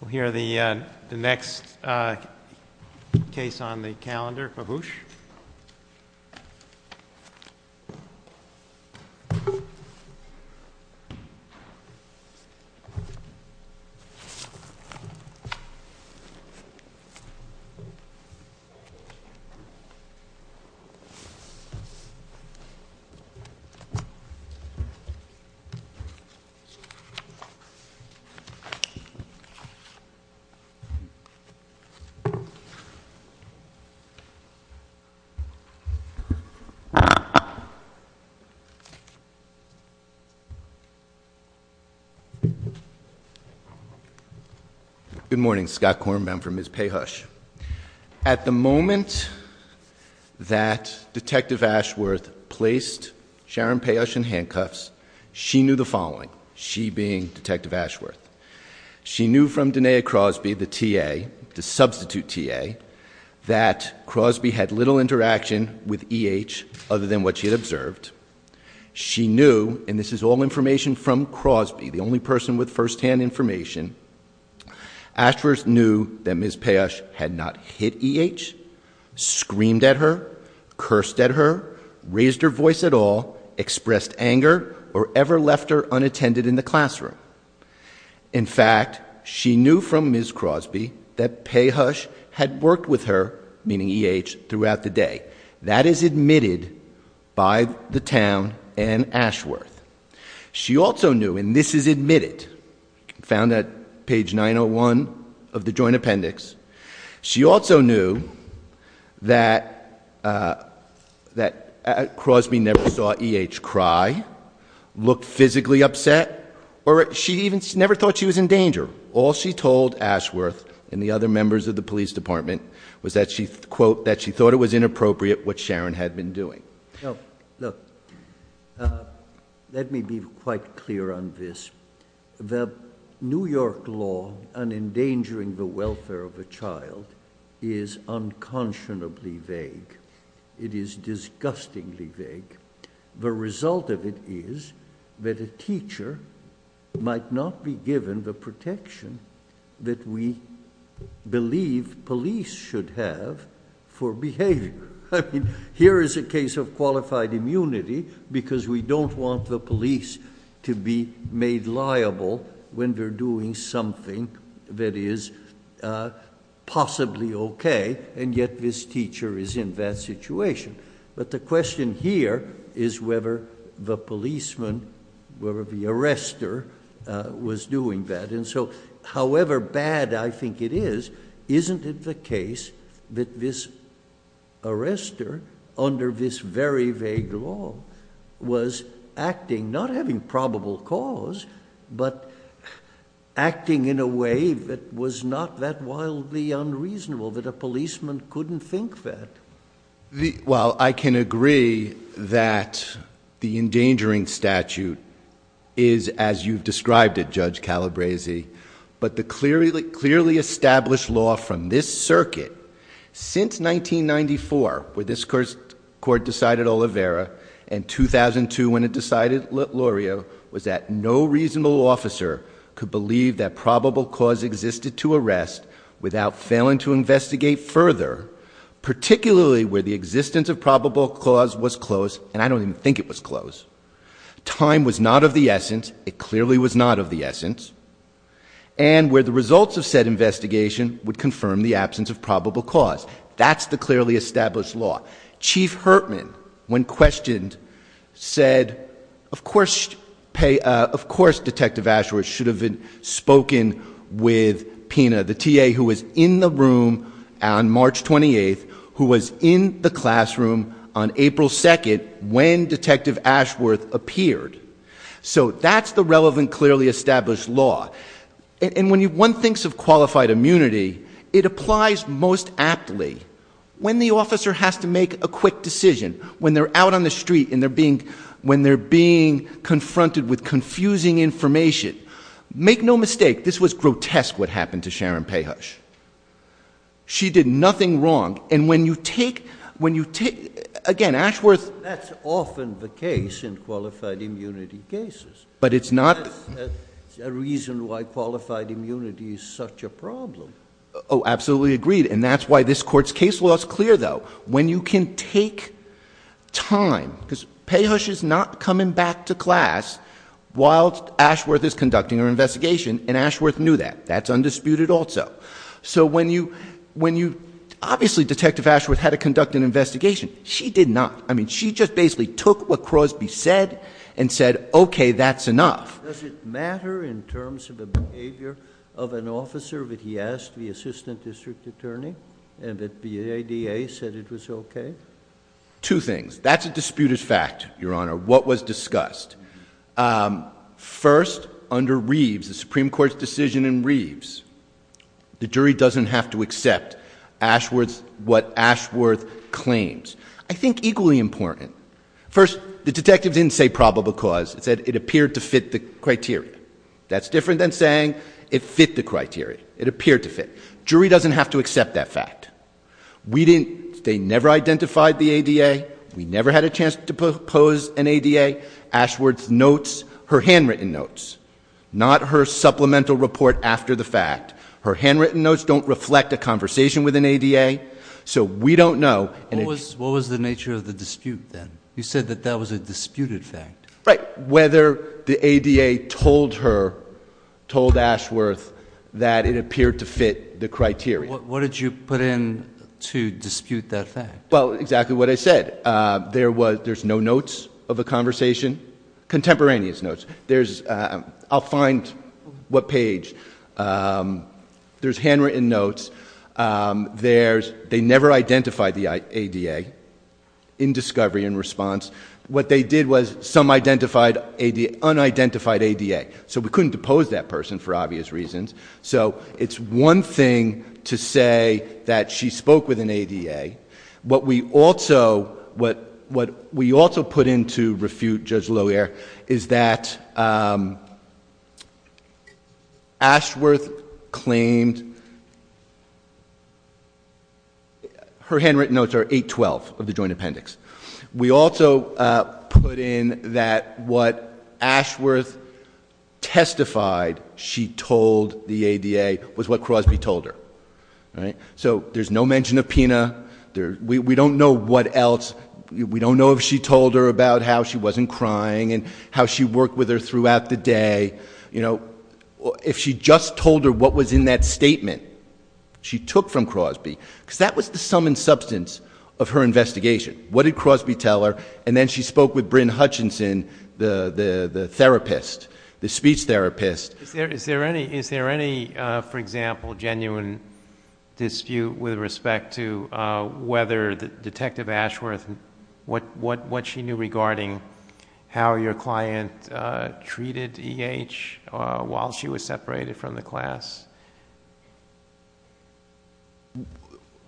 We'll hear the next case on the calendar, Pehush. Good morning, Scott Kornbaum for Ms. Pehush. At the moment that Detective Ashworth placed Ms. Pehush in handcuffs, she knew the following, she being Detective Ashworth. She knew from Denea Crosby, the TA, the substitute TA, that Crosby had little interaction with E.H. other than what she had observed. She knew, and this is all information from Crosby, the only person with first-hand information, Ashworth knew that Ms. Pehush had not hit E.H., screamed at her, cursed at her, raised her voice at all, expressed anger, or ever left her unattended in the classroom. In fact, she knew from Ms. Crosby that Pehush had worked with her, meaning E.H., throughout the day. That is admitted by the town and Ashworth. She also knew, and that Crosby never saw E.H. cry, looked physically upset, or she even never thought she was in danger. All she told Ashworth and the other members of the police department was that she, quote, that she thought it was inappropriate what Sharon had been doing. No, look, let me be quite clear on this. The New York law on endangering the welfare of a child is unconscionably vague. It is disgustingly vague. The result of it is that a teacher might not be given the protection that we believe police should have for behavior. Here is a case of qualified immunity because we don't want the police to be made liable when they're doing something that is possibly okay, and yet this teacher is in that situation. But the question here is whether the policeman, whether the arrestor, was doing that. However bad I think it is, isn't it the case that this arrestor, under this very vague law, was acting, not having probable cause, but acting in a way that was not that wildly unreasonable, that a policeman couldn't think that? Well, I can agree that the endangering statute is, as you've described it, Judge Calabresi, but the clearly established law from this circuit, since 1994, where this court decided Oliveira, and 2002 when it decided Loria, was that no reasonable officer could believe that probable cause existed to arrest without failing to investigate further, particularly where the existence of probable cause was close, and I don't even think it was close. Time was not of the essence. It clearly was not of the essence. And where the results of said investigation would confirm the absence of probable cause. That's the clearly established law. Chief Hertman, when questioned, said, of course, of course, Detective Ashworth should have been spoken with PINA, the TA who was in the room on March 28th, who was in the classroom on April 2nd, when Detective Ashworth appeared. So that's the relevant, clearly established law. And when one thinks of qualified immunity, it applies most aptly when the officer has to make a quick decision, when they're out on the street and they're being, when they're being confronted with confusing information. Make no mistake, this was grotesque what happened to Sharon Payhush. She did nothing wrong. And when you take, when you take, again, Ashworth That's often the case in qualified immunity cases. But it's not a reason why qualified immunity is such a problem. Oh, absolutely agreed. And that's why this court's case law is clear, though. When you can take time, because Payhush is not coming back to class while Ashworth is conducting her investigation, and Ashworth knew that. That's undisputed also. So when you, when you, obviously Detective Ashworth had to conduct an investigation. She did not. I mean, she just basically took what Crosby said and said, okay, that's enough. Does it matter in terms of the behavior of an officer that he asked the assistant district attorney and that the ADA said it was okay? Two things. That's a disputed fact, Your Honor, what was discussed. Um, first under Reeves, the Supreme Court's decision in Reeves, the jury doesn't have to accept Ashworth, what Ashworth claims. I think equally important. First, the detective didn't say probable cause. It said it appeared to fit the criteria. That's different than saying it fit the criteria. It appeared to fit. Jury doesn't have to accept that fact. We didn't, they never identified the ADA. We never had a chance to pose an ADA. Ashworth's notes, her handwritten notes, not her supplemental report after the fact. Her handwritten notes don't reflect a conversation with an ADA. So we don't know. What was, what was the nature of the dispute then? You said that that was a disputed fact. Right. Whether the ADA told her, told Ashworth that it appeared to fit the criteria. What did you put in to dispute that fact? Well, exactly what I said. Uh, there was, there's no notes of a conversation, contemporaneous notes. There's, uh, I'll find what page. Um, there's handwritten notes. Um, there's, they never identified the ADA in discovery and response. What they did was some identified ADA, unidentified ADA. So we couldn't depose that person for obvious reasons. So it's one thing to say that she spoke with an ADA. What we also, what, what we also put into refute is that, um, Ashworth claimed her handwritten notes are 8-12 of the joint appendix. We also, uh, put in that what Ashworth testified she told the ADA was what Crosby told her. Right? So there's no mention of PINA. There, we, we don't know what else. We don't know if she told her about how she wasn't crying and how she worked with her throughout the day. You know, if she just told her what was in that statement she took from Crosby, because that was the sum and substance of her investigation. What did Crosby tell her? And then she spoke with Bryn Hutchinson, the, the, the therapist, the speech therapist. Is there, is there any, is there any, uh, for example, genuine dispute with respect to, uh, whether the detective Ashworth, what, what, what she knew regarding how your client, uh, treated EH, uh, while she was separated from the class?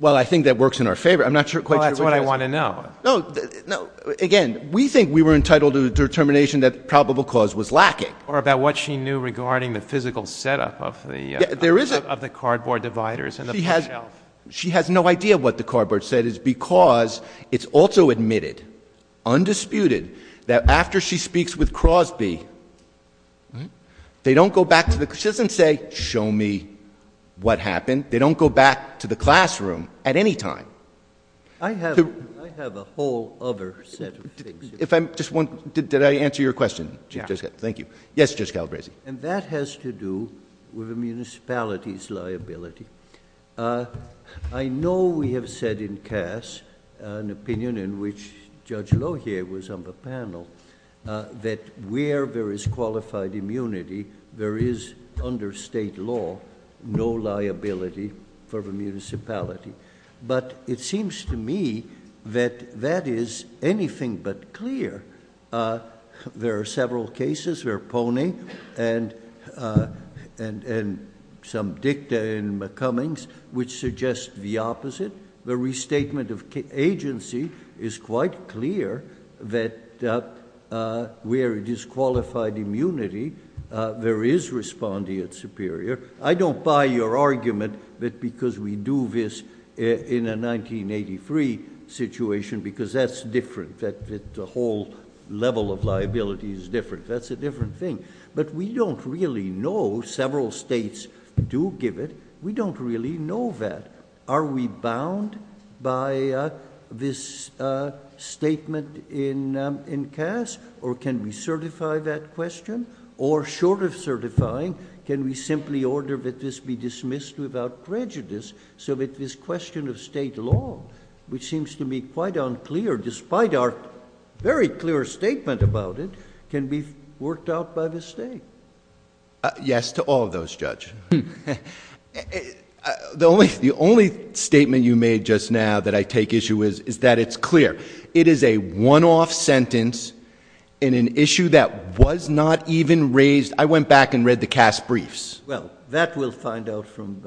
Well I think that works in our favor. I'm not sure quite sure what it does. Well that's what I want to know. No, no, again, we think we were entitled to the determination that probable cause was lacking. Or about what she knew regarding the physical setup of the, uh, of the cardboard dividers and the bookshelf. She has no idea what the cardboard said is because it's also admitted, undisputed, that after she speaks with Crosby, they don't go back to the, she doesn't say, show me what happened. They don't go back to the classroom at any time. I have, I have a whole other set of things. If I'm just one, did, did I answer your question, Chief Judge Calabresi? Yeah. Thank you. Yes, Judge Calabresi. And that has to do with a municipality's liability. Uh, I know we have said in CAS, an opinion in which Judge Lohier was on the panel, uh, that where there is qualified immunity, there is under state law, no liability for the municipality. But it seems to me that that is anything but clear. Uh, there are several cases where Pony and, uh, and, and some dicta in McCummings, which suggests the opposite. The restatement of agency is quite clear that, uh, uh, where it is qualified immunity, uh, there is respondeat superior. I don't buy your argument that because we do this in a 1983 situation, because that's all level of liability is different. That's a different thing. But we don't really know several states do give it. We don't really know that. Are we bound by, uh, this, uh, statement in, um, in CAS or can we certify that question? Or short of certifying, can we simply order that this be dismissed without prejudice so that this question of state law, which seems to me quite unclear, despite our very clear statement about it, can be worked out by the state? Uh, yes, to all of those, Judge. The only, the only statement you made just now that I take issue is, is that it's clear. It is a one-off sentence in an issue that was not even raised. I went back and read the CAS briefs. Well, that we'll find out from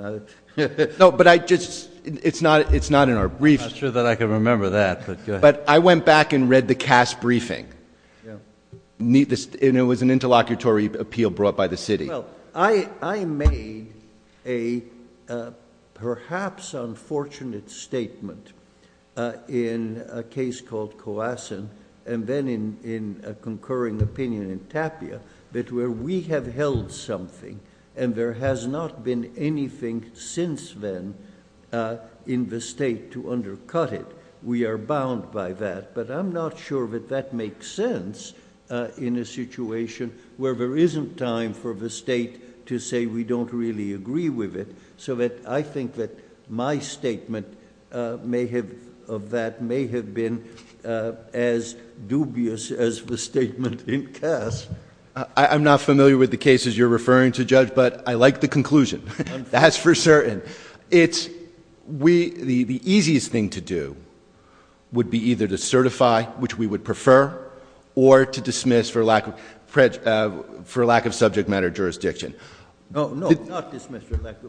that. No, but I just, it's not, it's not in our briefs. I'm not sure that I can remember that, but go ahead. But I went back and read the CAS briefing. Yeah. And it was an interlocutory appeal brought by the city. Well, I, I made a, uh, perhaps unfortunate statement, uh, in a case called Coasson and then in, in a concurring opinion in Tapia that where we have held something and there has not been anything since then, uh, in the state to undercut it, we are bound by that. But I'm not sure that that makes sense, uh, in a situation where there isn't time for the state to say, we don't really agree with it. So that I think that my statement, uh, may have of that may have been, uh, as dubious as the statement in CAS. I'm not familiar with the cases you're referring to judge, but I like the conclusion. That's for certain. It's we, the, the easiest thing to do would be either to certify, which we would prefer or to dismiss for lack of, uh, for lack of subject matter jurisdiction. Oh, no, not dismissed.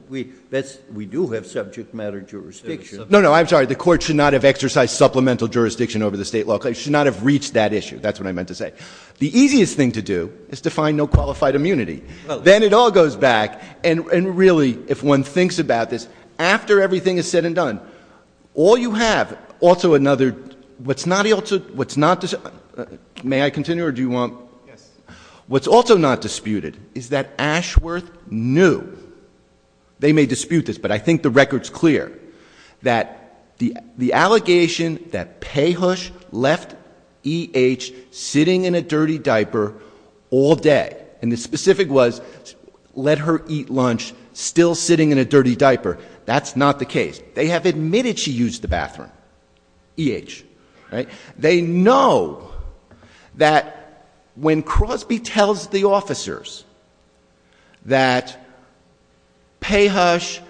We, that's, we do have subject matter jurisdiction. No, no, I'm sorry. The court should not have exercised supplemental jurisdiction over the state law. I should not have reached that issue. That's what I meant to say. The easiest thing to do is to find no qualified immunity. Then it all goes back and really, if one thinks about this after everything is said and done, all you have also another, what's not able to, what's not, may I continue or do you want, what's also not disputed is that Ashworth knew they may dispute this, but I think the record's clear that the, the allegation that Payhush left E.H. sitting in a dirty diaper all day and the specific was let her eat lunch, still sitting in a dirty diaper. That's not the case. They have admitted she used the bathroom. E.H., right? They know that when Crosby tells the officers that Payhush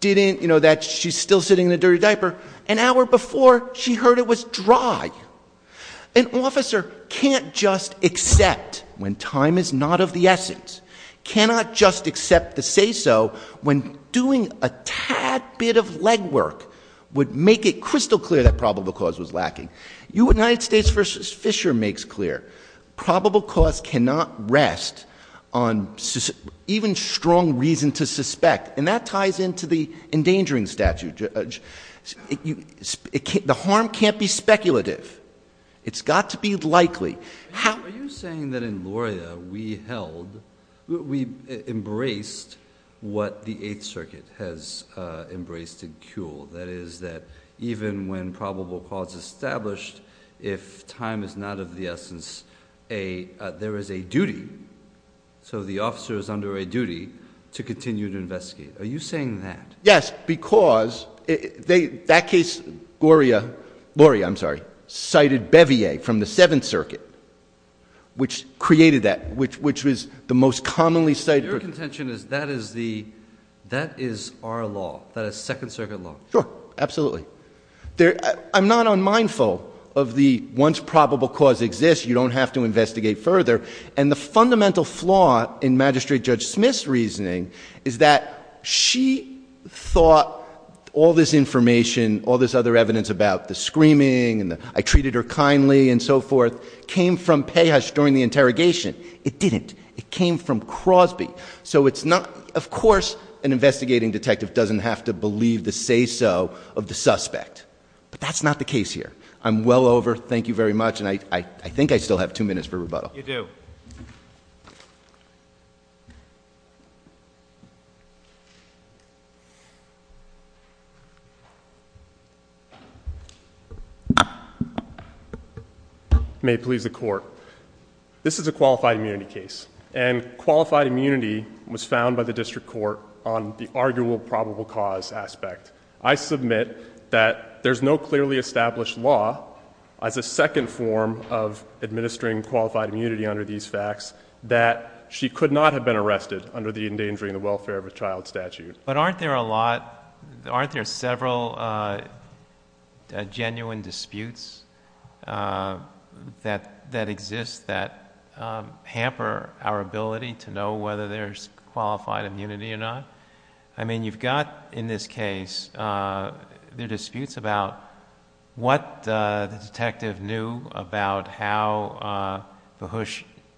didn't, you know, that she's still sitting in a dirty diaper, an hour before she heard it was dry. An officer can't just accept when time is not of the essence, cannot just accept to say so when doing a tad bit of legwork would make it crystal clear that probable cause was lacking. United States v. Fisher makes clear probable cause cannot rest on even strong reason to suspect, and that ties into the endangering statute. The harm can't be speculative. It's got to be likely. Are you saying that in Loria we held, we embraced what the Eighth Circuit has embraced in Kuhl? That is that even when probable cause is established, if time is not of the essence, there is a duty, so the officer is under a duty to continue to investigate. Are you saying that? Yes, because they, that case, Loria, I'm sorry, cited Bevier from the Seventh Circuit, which created that, which was the most commonly cited. Your contention is that is the, that is our law, that is Second Circuit law. Sure, absolutely. I'm not unmindful of the once probable cause exists, you don't have to investigate further, and the fundamental flaw in Magistrate Judge Smith's reasoning is that she thought all this information, all this other evidence about the screaming, and I treated her kindly and so forth, came from Pejas during the interrogation. It didn't. It came from Crosby. So it's not, of course, an investigating detective doesn't have to believe the say-so of the suspect. But that's not the case here. I'm well over, thank you very much, and I think I still have two minutes for rebuttal. You do. May it please the Court. This is a qualified immunity case, and qualified immunity was found by the district court on the arguable probable cause aspect. I submit that there's no clearly established law as a second form of administering qualified immunity under these facts that she could not have been arrested under the endangering the welfare of a child statute. But aren't there a lot, aren't there several genuine disputes that exist that hamper our ability to know whether there's qualified immunity or not? I mean, you've got in this case, Mahush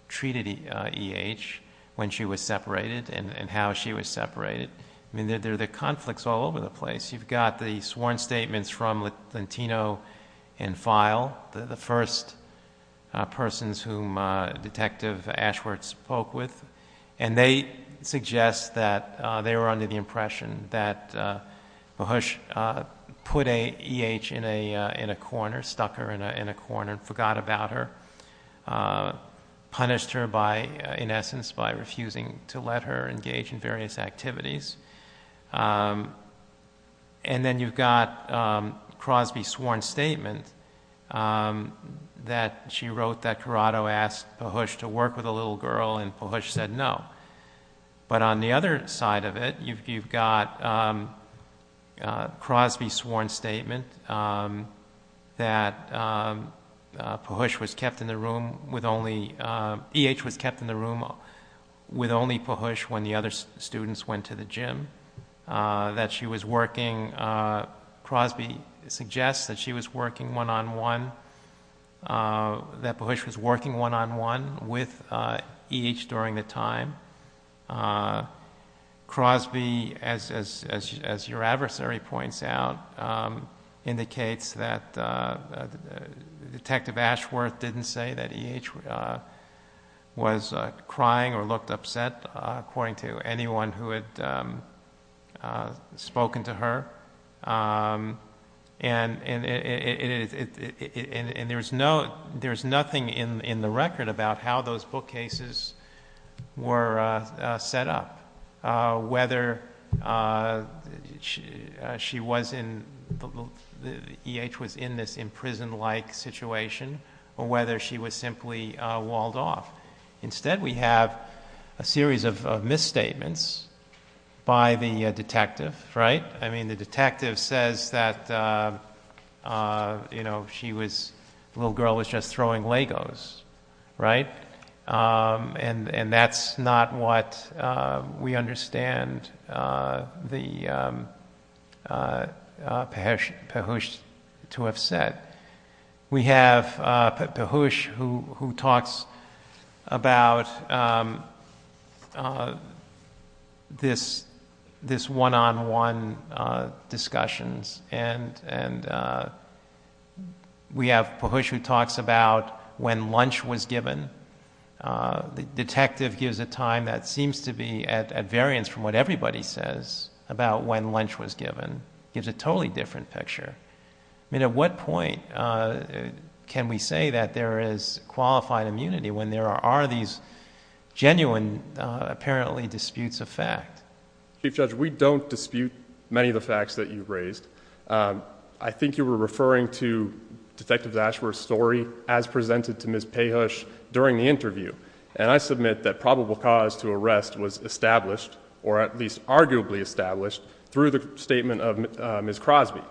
treated E.H. when she was separated and how she was separated. I mean, there are the conflicts all over the place. You've got the sworn statements from Lentino and Feil, the first persons whom Detective Ashworth spoke with, and they suggest that they were under the impression that Mahush put E.H. in a corner, stuck her in a corner, forgot about her, punished her in essence by refusing to let her engage in various activities. And then you've got Crosby's sworn statement that she wrote that Corrado asked Mahush to work with a little girl and Mahush said no. But on the other side of it, you've got Crosby's sworn statement that E.H. was kept in the room with only Mahush when the other students went to the gym, that she was working, Crosby suggests that she was working one-on-one, that Mahush was working one-on-one with E.H. during the time. Crosby, as your adversary points out, indicates that Detective Ashworth didn't say that E.H. was crying or looked upset, according to anyone who had spoken to her. And there's nothing in the record about how those bookcases were set up, whether E.H. was in this in-prison-like situation or whether she was simply walled off. Instead, we have a series of misstatements by the detective, right? I mean, the detective says that, you know, the little girl was just throwing Legos, right? And that's not what we understand Mahush to have said. We have Mahush who talks about this one-on-one discussions, and we have Mahush who talks about when lunch was given. The detective gives a time that seems to be at variance from what everybody says about when lunch was given, gives a totally different picture. I mean, at what point can we say that there is qualified immunity when there are these genuine, apparently, disputes of fact? Chief Judge, we don't dispute many of the facts that you've raised. I think you were referring to Detective Ashworth's story as presented to Ms. Payhush during the interview, and I submit that probable cause to arrest was established, or at least arguably established, through the statement of Ms. Crosby.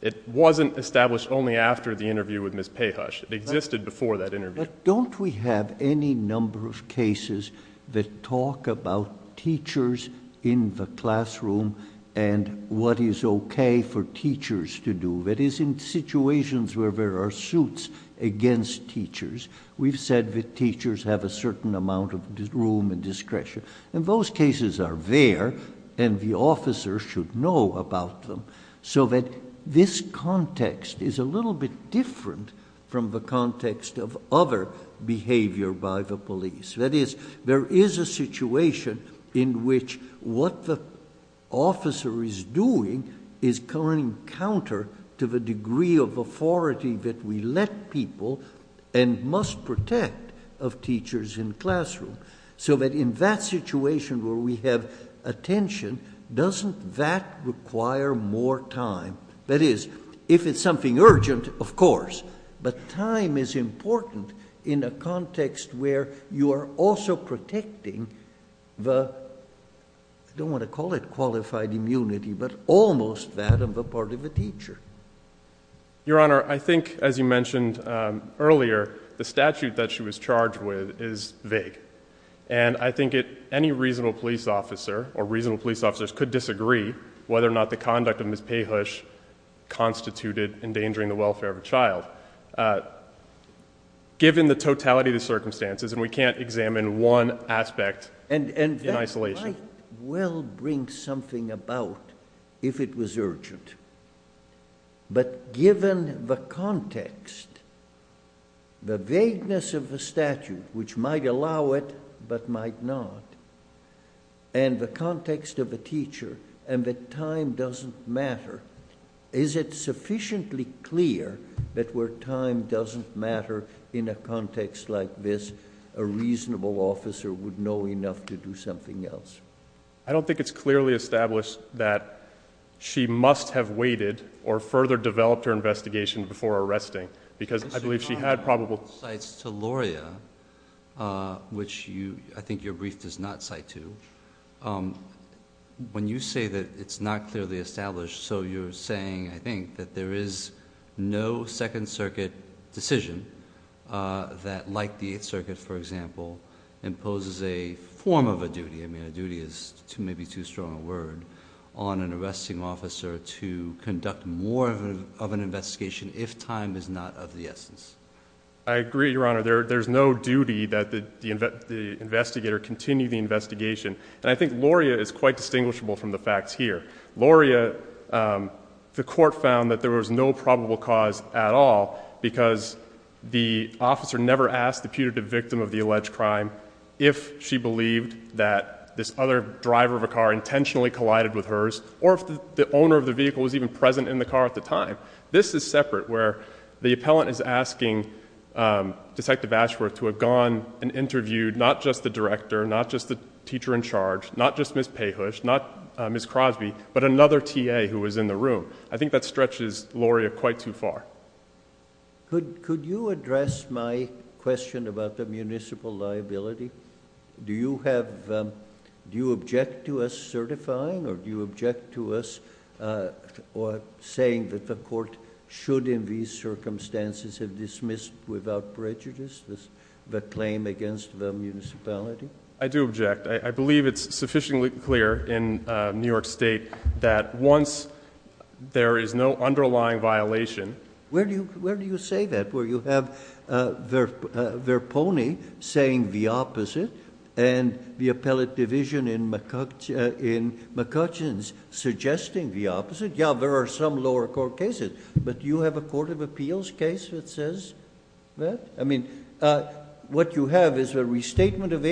It wasn't established only after the interview with Ms. Payhush. It existed before that interview. But don't we have any number of cases that talk about teachers in the classroom, and what is okay for teachers to do? That is, in situations where there are suits against teachers, we've said that teachers have a certain amount of room and discretion, and those cases are there, and the officer should know about them, so that this is very different from the context of other behavior by the police. That is, there is a situation in which what the officer is doing is coming counter to the degree of authority that we let people, and must protect, of teachers in the classroom, so that in that situation where we have attention, doesn't that require more time? That is, if it's something urgent, of course, but time is important in a context where you are also protecting the, I don't want to call it qualified immunity, but almost that of a part of a teacher. Your Honor, I think, as you mentioned earlier, the statute that she was charged with is vague, and I think any reasonable police officer, or reasonable police officers, could disagree whether or not the conduct of Ms. Pahusch constituted endangering the welfare of a child, given the totality of the circumstances, and we can't examine one aspect in isolation. Might well bring something about if it was urgent, but given the context, the vagueness of the statute, which might allow it, but might not, and the context of a teacher, and that time doesn't matter, is it sufficiently clear that where time doesn't matter in a context like this, a reasonable officer would know enough to do something else? I don't think it's clearly established that she must have waited, or further developed her investigation before arresting, because I believe she had probable... Your Honor, this cites to Loria, which I think your brief does not cite to, when you say that it's not clearly established, so you're saying, I think, that there is no Second Circuit decision that, like the Eighth Circuit, for example, imposes a form of a duty, I mean, a duty is maybe too strong a word, on an arresting officer to conduct more of an investigation if time is not of the essence. I agree, Your Honor, there's no duty that the investigator continue the investigation, and I think Loria is quite distinguishable from the probable cause at all, because the officer never asked the putative victim of the alleged crime if she believed that this other driver of a car intentionally collided with hers, or if the owner of the vehicle was even present in the car at the time. This is separate, where the appellant is asking Detective Ashworth to have gone and interviewed not just the director, not just the teacher in charge, not just Ms. Pahusch, not Ms. Crosby, but another TA who was in the room. I think that stretches Loria quite too far. Could you address my question about the municipal liability? Do you object to us certifying, or do you object to us saying that the court should, in these circumstances, have dismissed without prejudice the claim against the municipality? I do object. I believe it's sufficiently clear in New York State that once there is no underlying violation— Where do you say that, where you have Verponi saying the opposite and the appellate division in McCutcheons suggesting the opposite? Yeah, there are some lower court cases, but do you have a court of appeals case that says that? I mean, what you have is a restatement of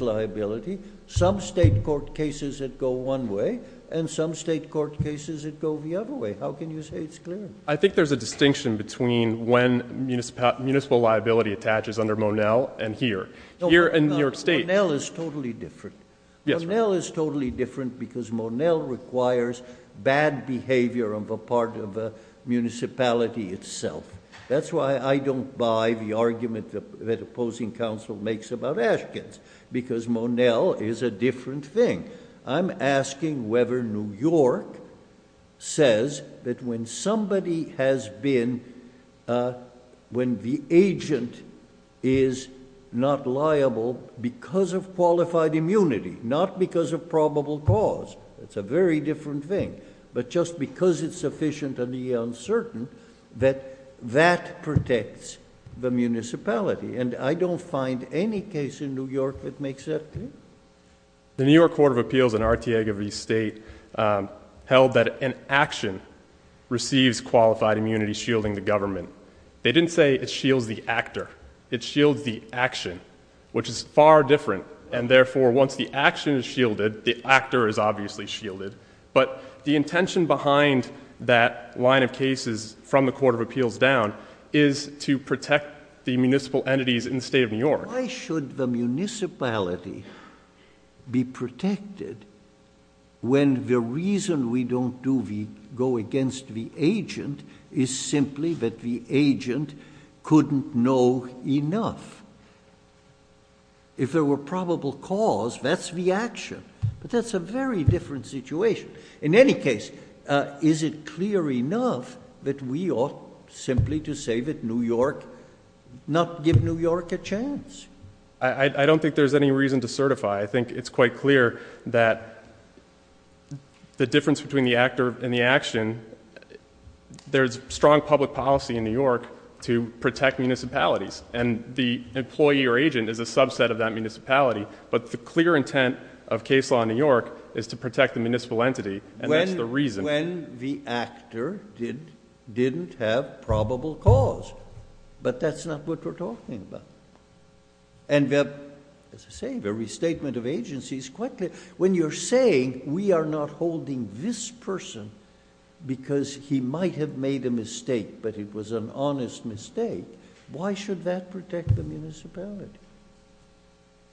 liability. Some state court cases that go one way, and some state court cases that go the other way. How can you say it's clear? I think there's a distinction between when municipal liability attaches under Monell and here. Here in New York State— Monell is totally different. Monell is totally different because Monell requires bad behavior on the part of the municipality itself. That's why I don't buy the argument that opposing counsel makes about Ashkins, because Monell is a different thing. I'm asking whether New York says that when somebody has been, when the agent is not liable because of qualified immunity, not because of probable cause—that's very different thing—but just because it's sufficiently uncertain that that protects the municipality. And I don't find any case in New York that makes that clear. The New York Court of Appeals in Artiega v. State held that an action receives qualified immunity shielding the government. They didn't say it shields the actor. It shields the action, which is far different. And therefore, once the action is shielded, the actor is obviously shielded. But the intention behind that line of cases from the Court of Appeals down is to protect the municipal entities in the state of New York. Why should the municipality be protected when the reason we don't go against the agent is simply that the agent couldn't know enough? If there were probable cause, that's the action. But that's a very different situation. In any case, is it clear enough that we ought simply to say that New York, not give New York a chance? I don't think there's any reason to certify. I think it's quite clear that the difference between the actor and the action, there's strong public policy in New York to protect municipalities. And the employee or agent is a subset of that municipality. But the clear intent of case law in New York is to protect the municipal entity. And that's the reason. When the actor didn't have probable cause, but that's not what we're talking about. And as I say, the restatement of agency is quite clear. When you're saying we are not holding this person because he might have made a mistake, but it was an honest mistake, why should that protect the municipality?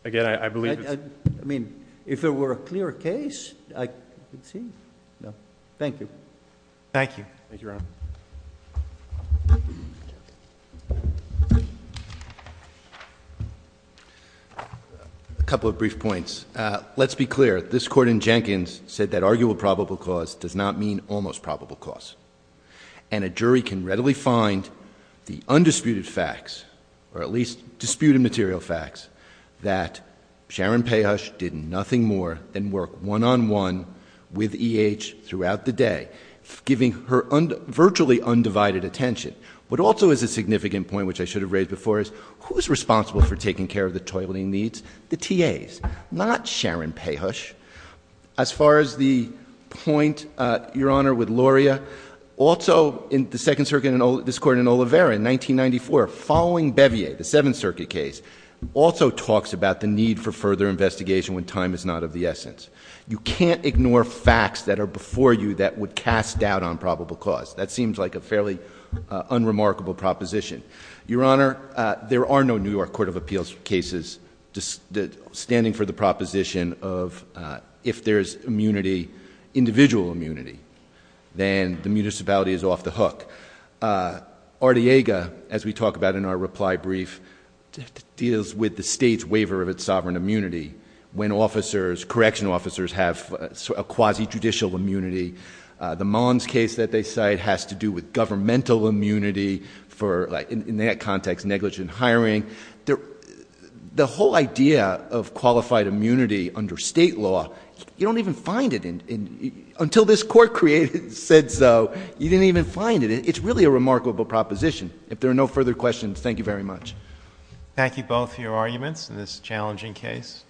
Again, I believe it's... I mean, if there were a clear case, I could see. No. Thank you. Thank you. Thank you, Your Honor. A couple of brief points. Let's be clear. This court in Jenkins said that arguable probable cause does not mean almost probable cause. And a jury can readily find the undisputed facts, or at least disputed material facts, that Sharon Payhush did nothing more than work one-on-one with E.H. throughout the day, giving her virtually undivided attention. But also is a significant point, which I should have raised before is, who's responsible for taking care of the toileting needs? The TAs, not Sharon Payhush. As far as the point, Your Honor, with Lauria, also in the Second Circuit, this court in Oliveira in 1994, following Bevier, the Seventh Circuit case, also talks about the need for further investigation when time is not of the essence. You can't ignore facts that are before you that would cast doubt on probable cause. That seems like a fairly unremarkable proposition. Your Honor, there are no New York Court of Appeals cases standing for the proposition of if there's immunity, individual immunity, then the municipality is off the hook. Artiega, as we talk about in our reply brief, deals with the state's waiver of its sovereign immunity when officers, correctional officers, have quasi-judicial immunity. The Mullins case that they cite has to do with governmental immunity for, in that context, negligent hiring. The whole idea of qualified immunity under state law, you don't even find it until this court created it and said so. You didn't even find it. It's really a remarkable proposition. If there are no further questions, thank you very much. Thank you both for your arguments in this challenging case.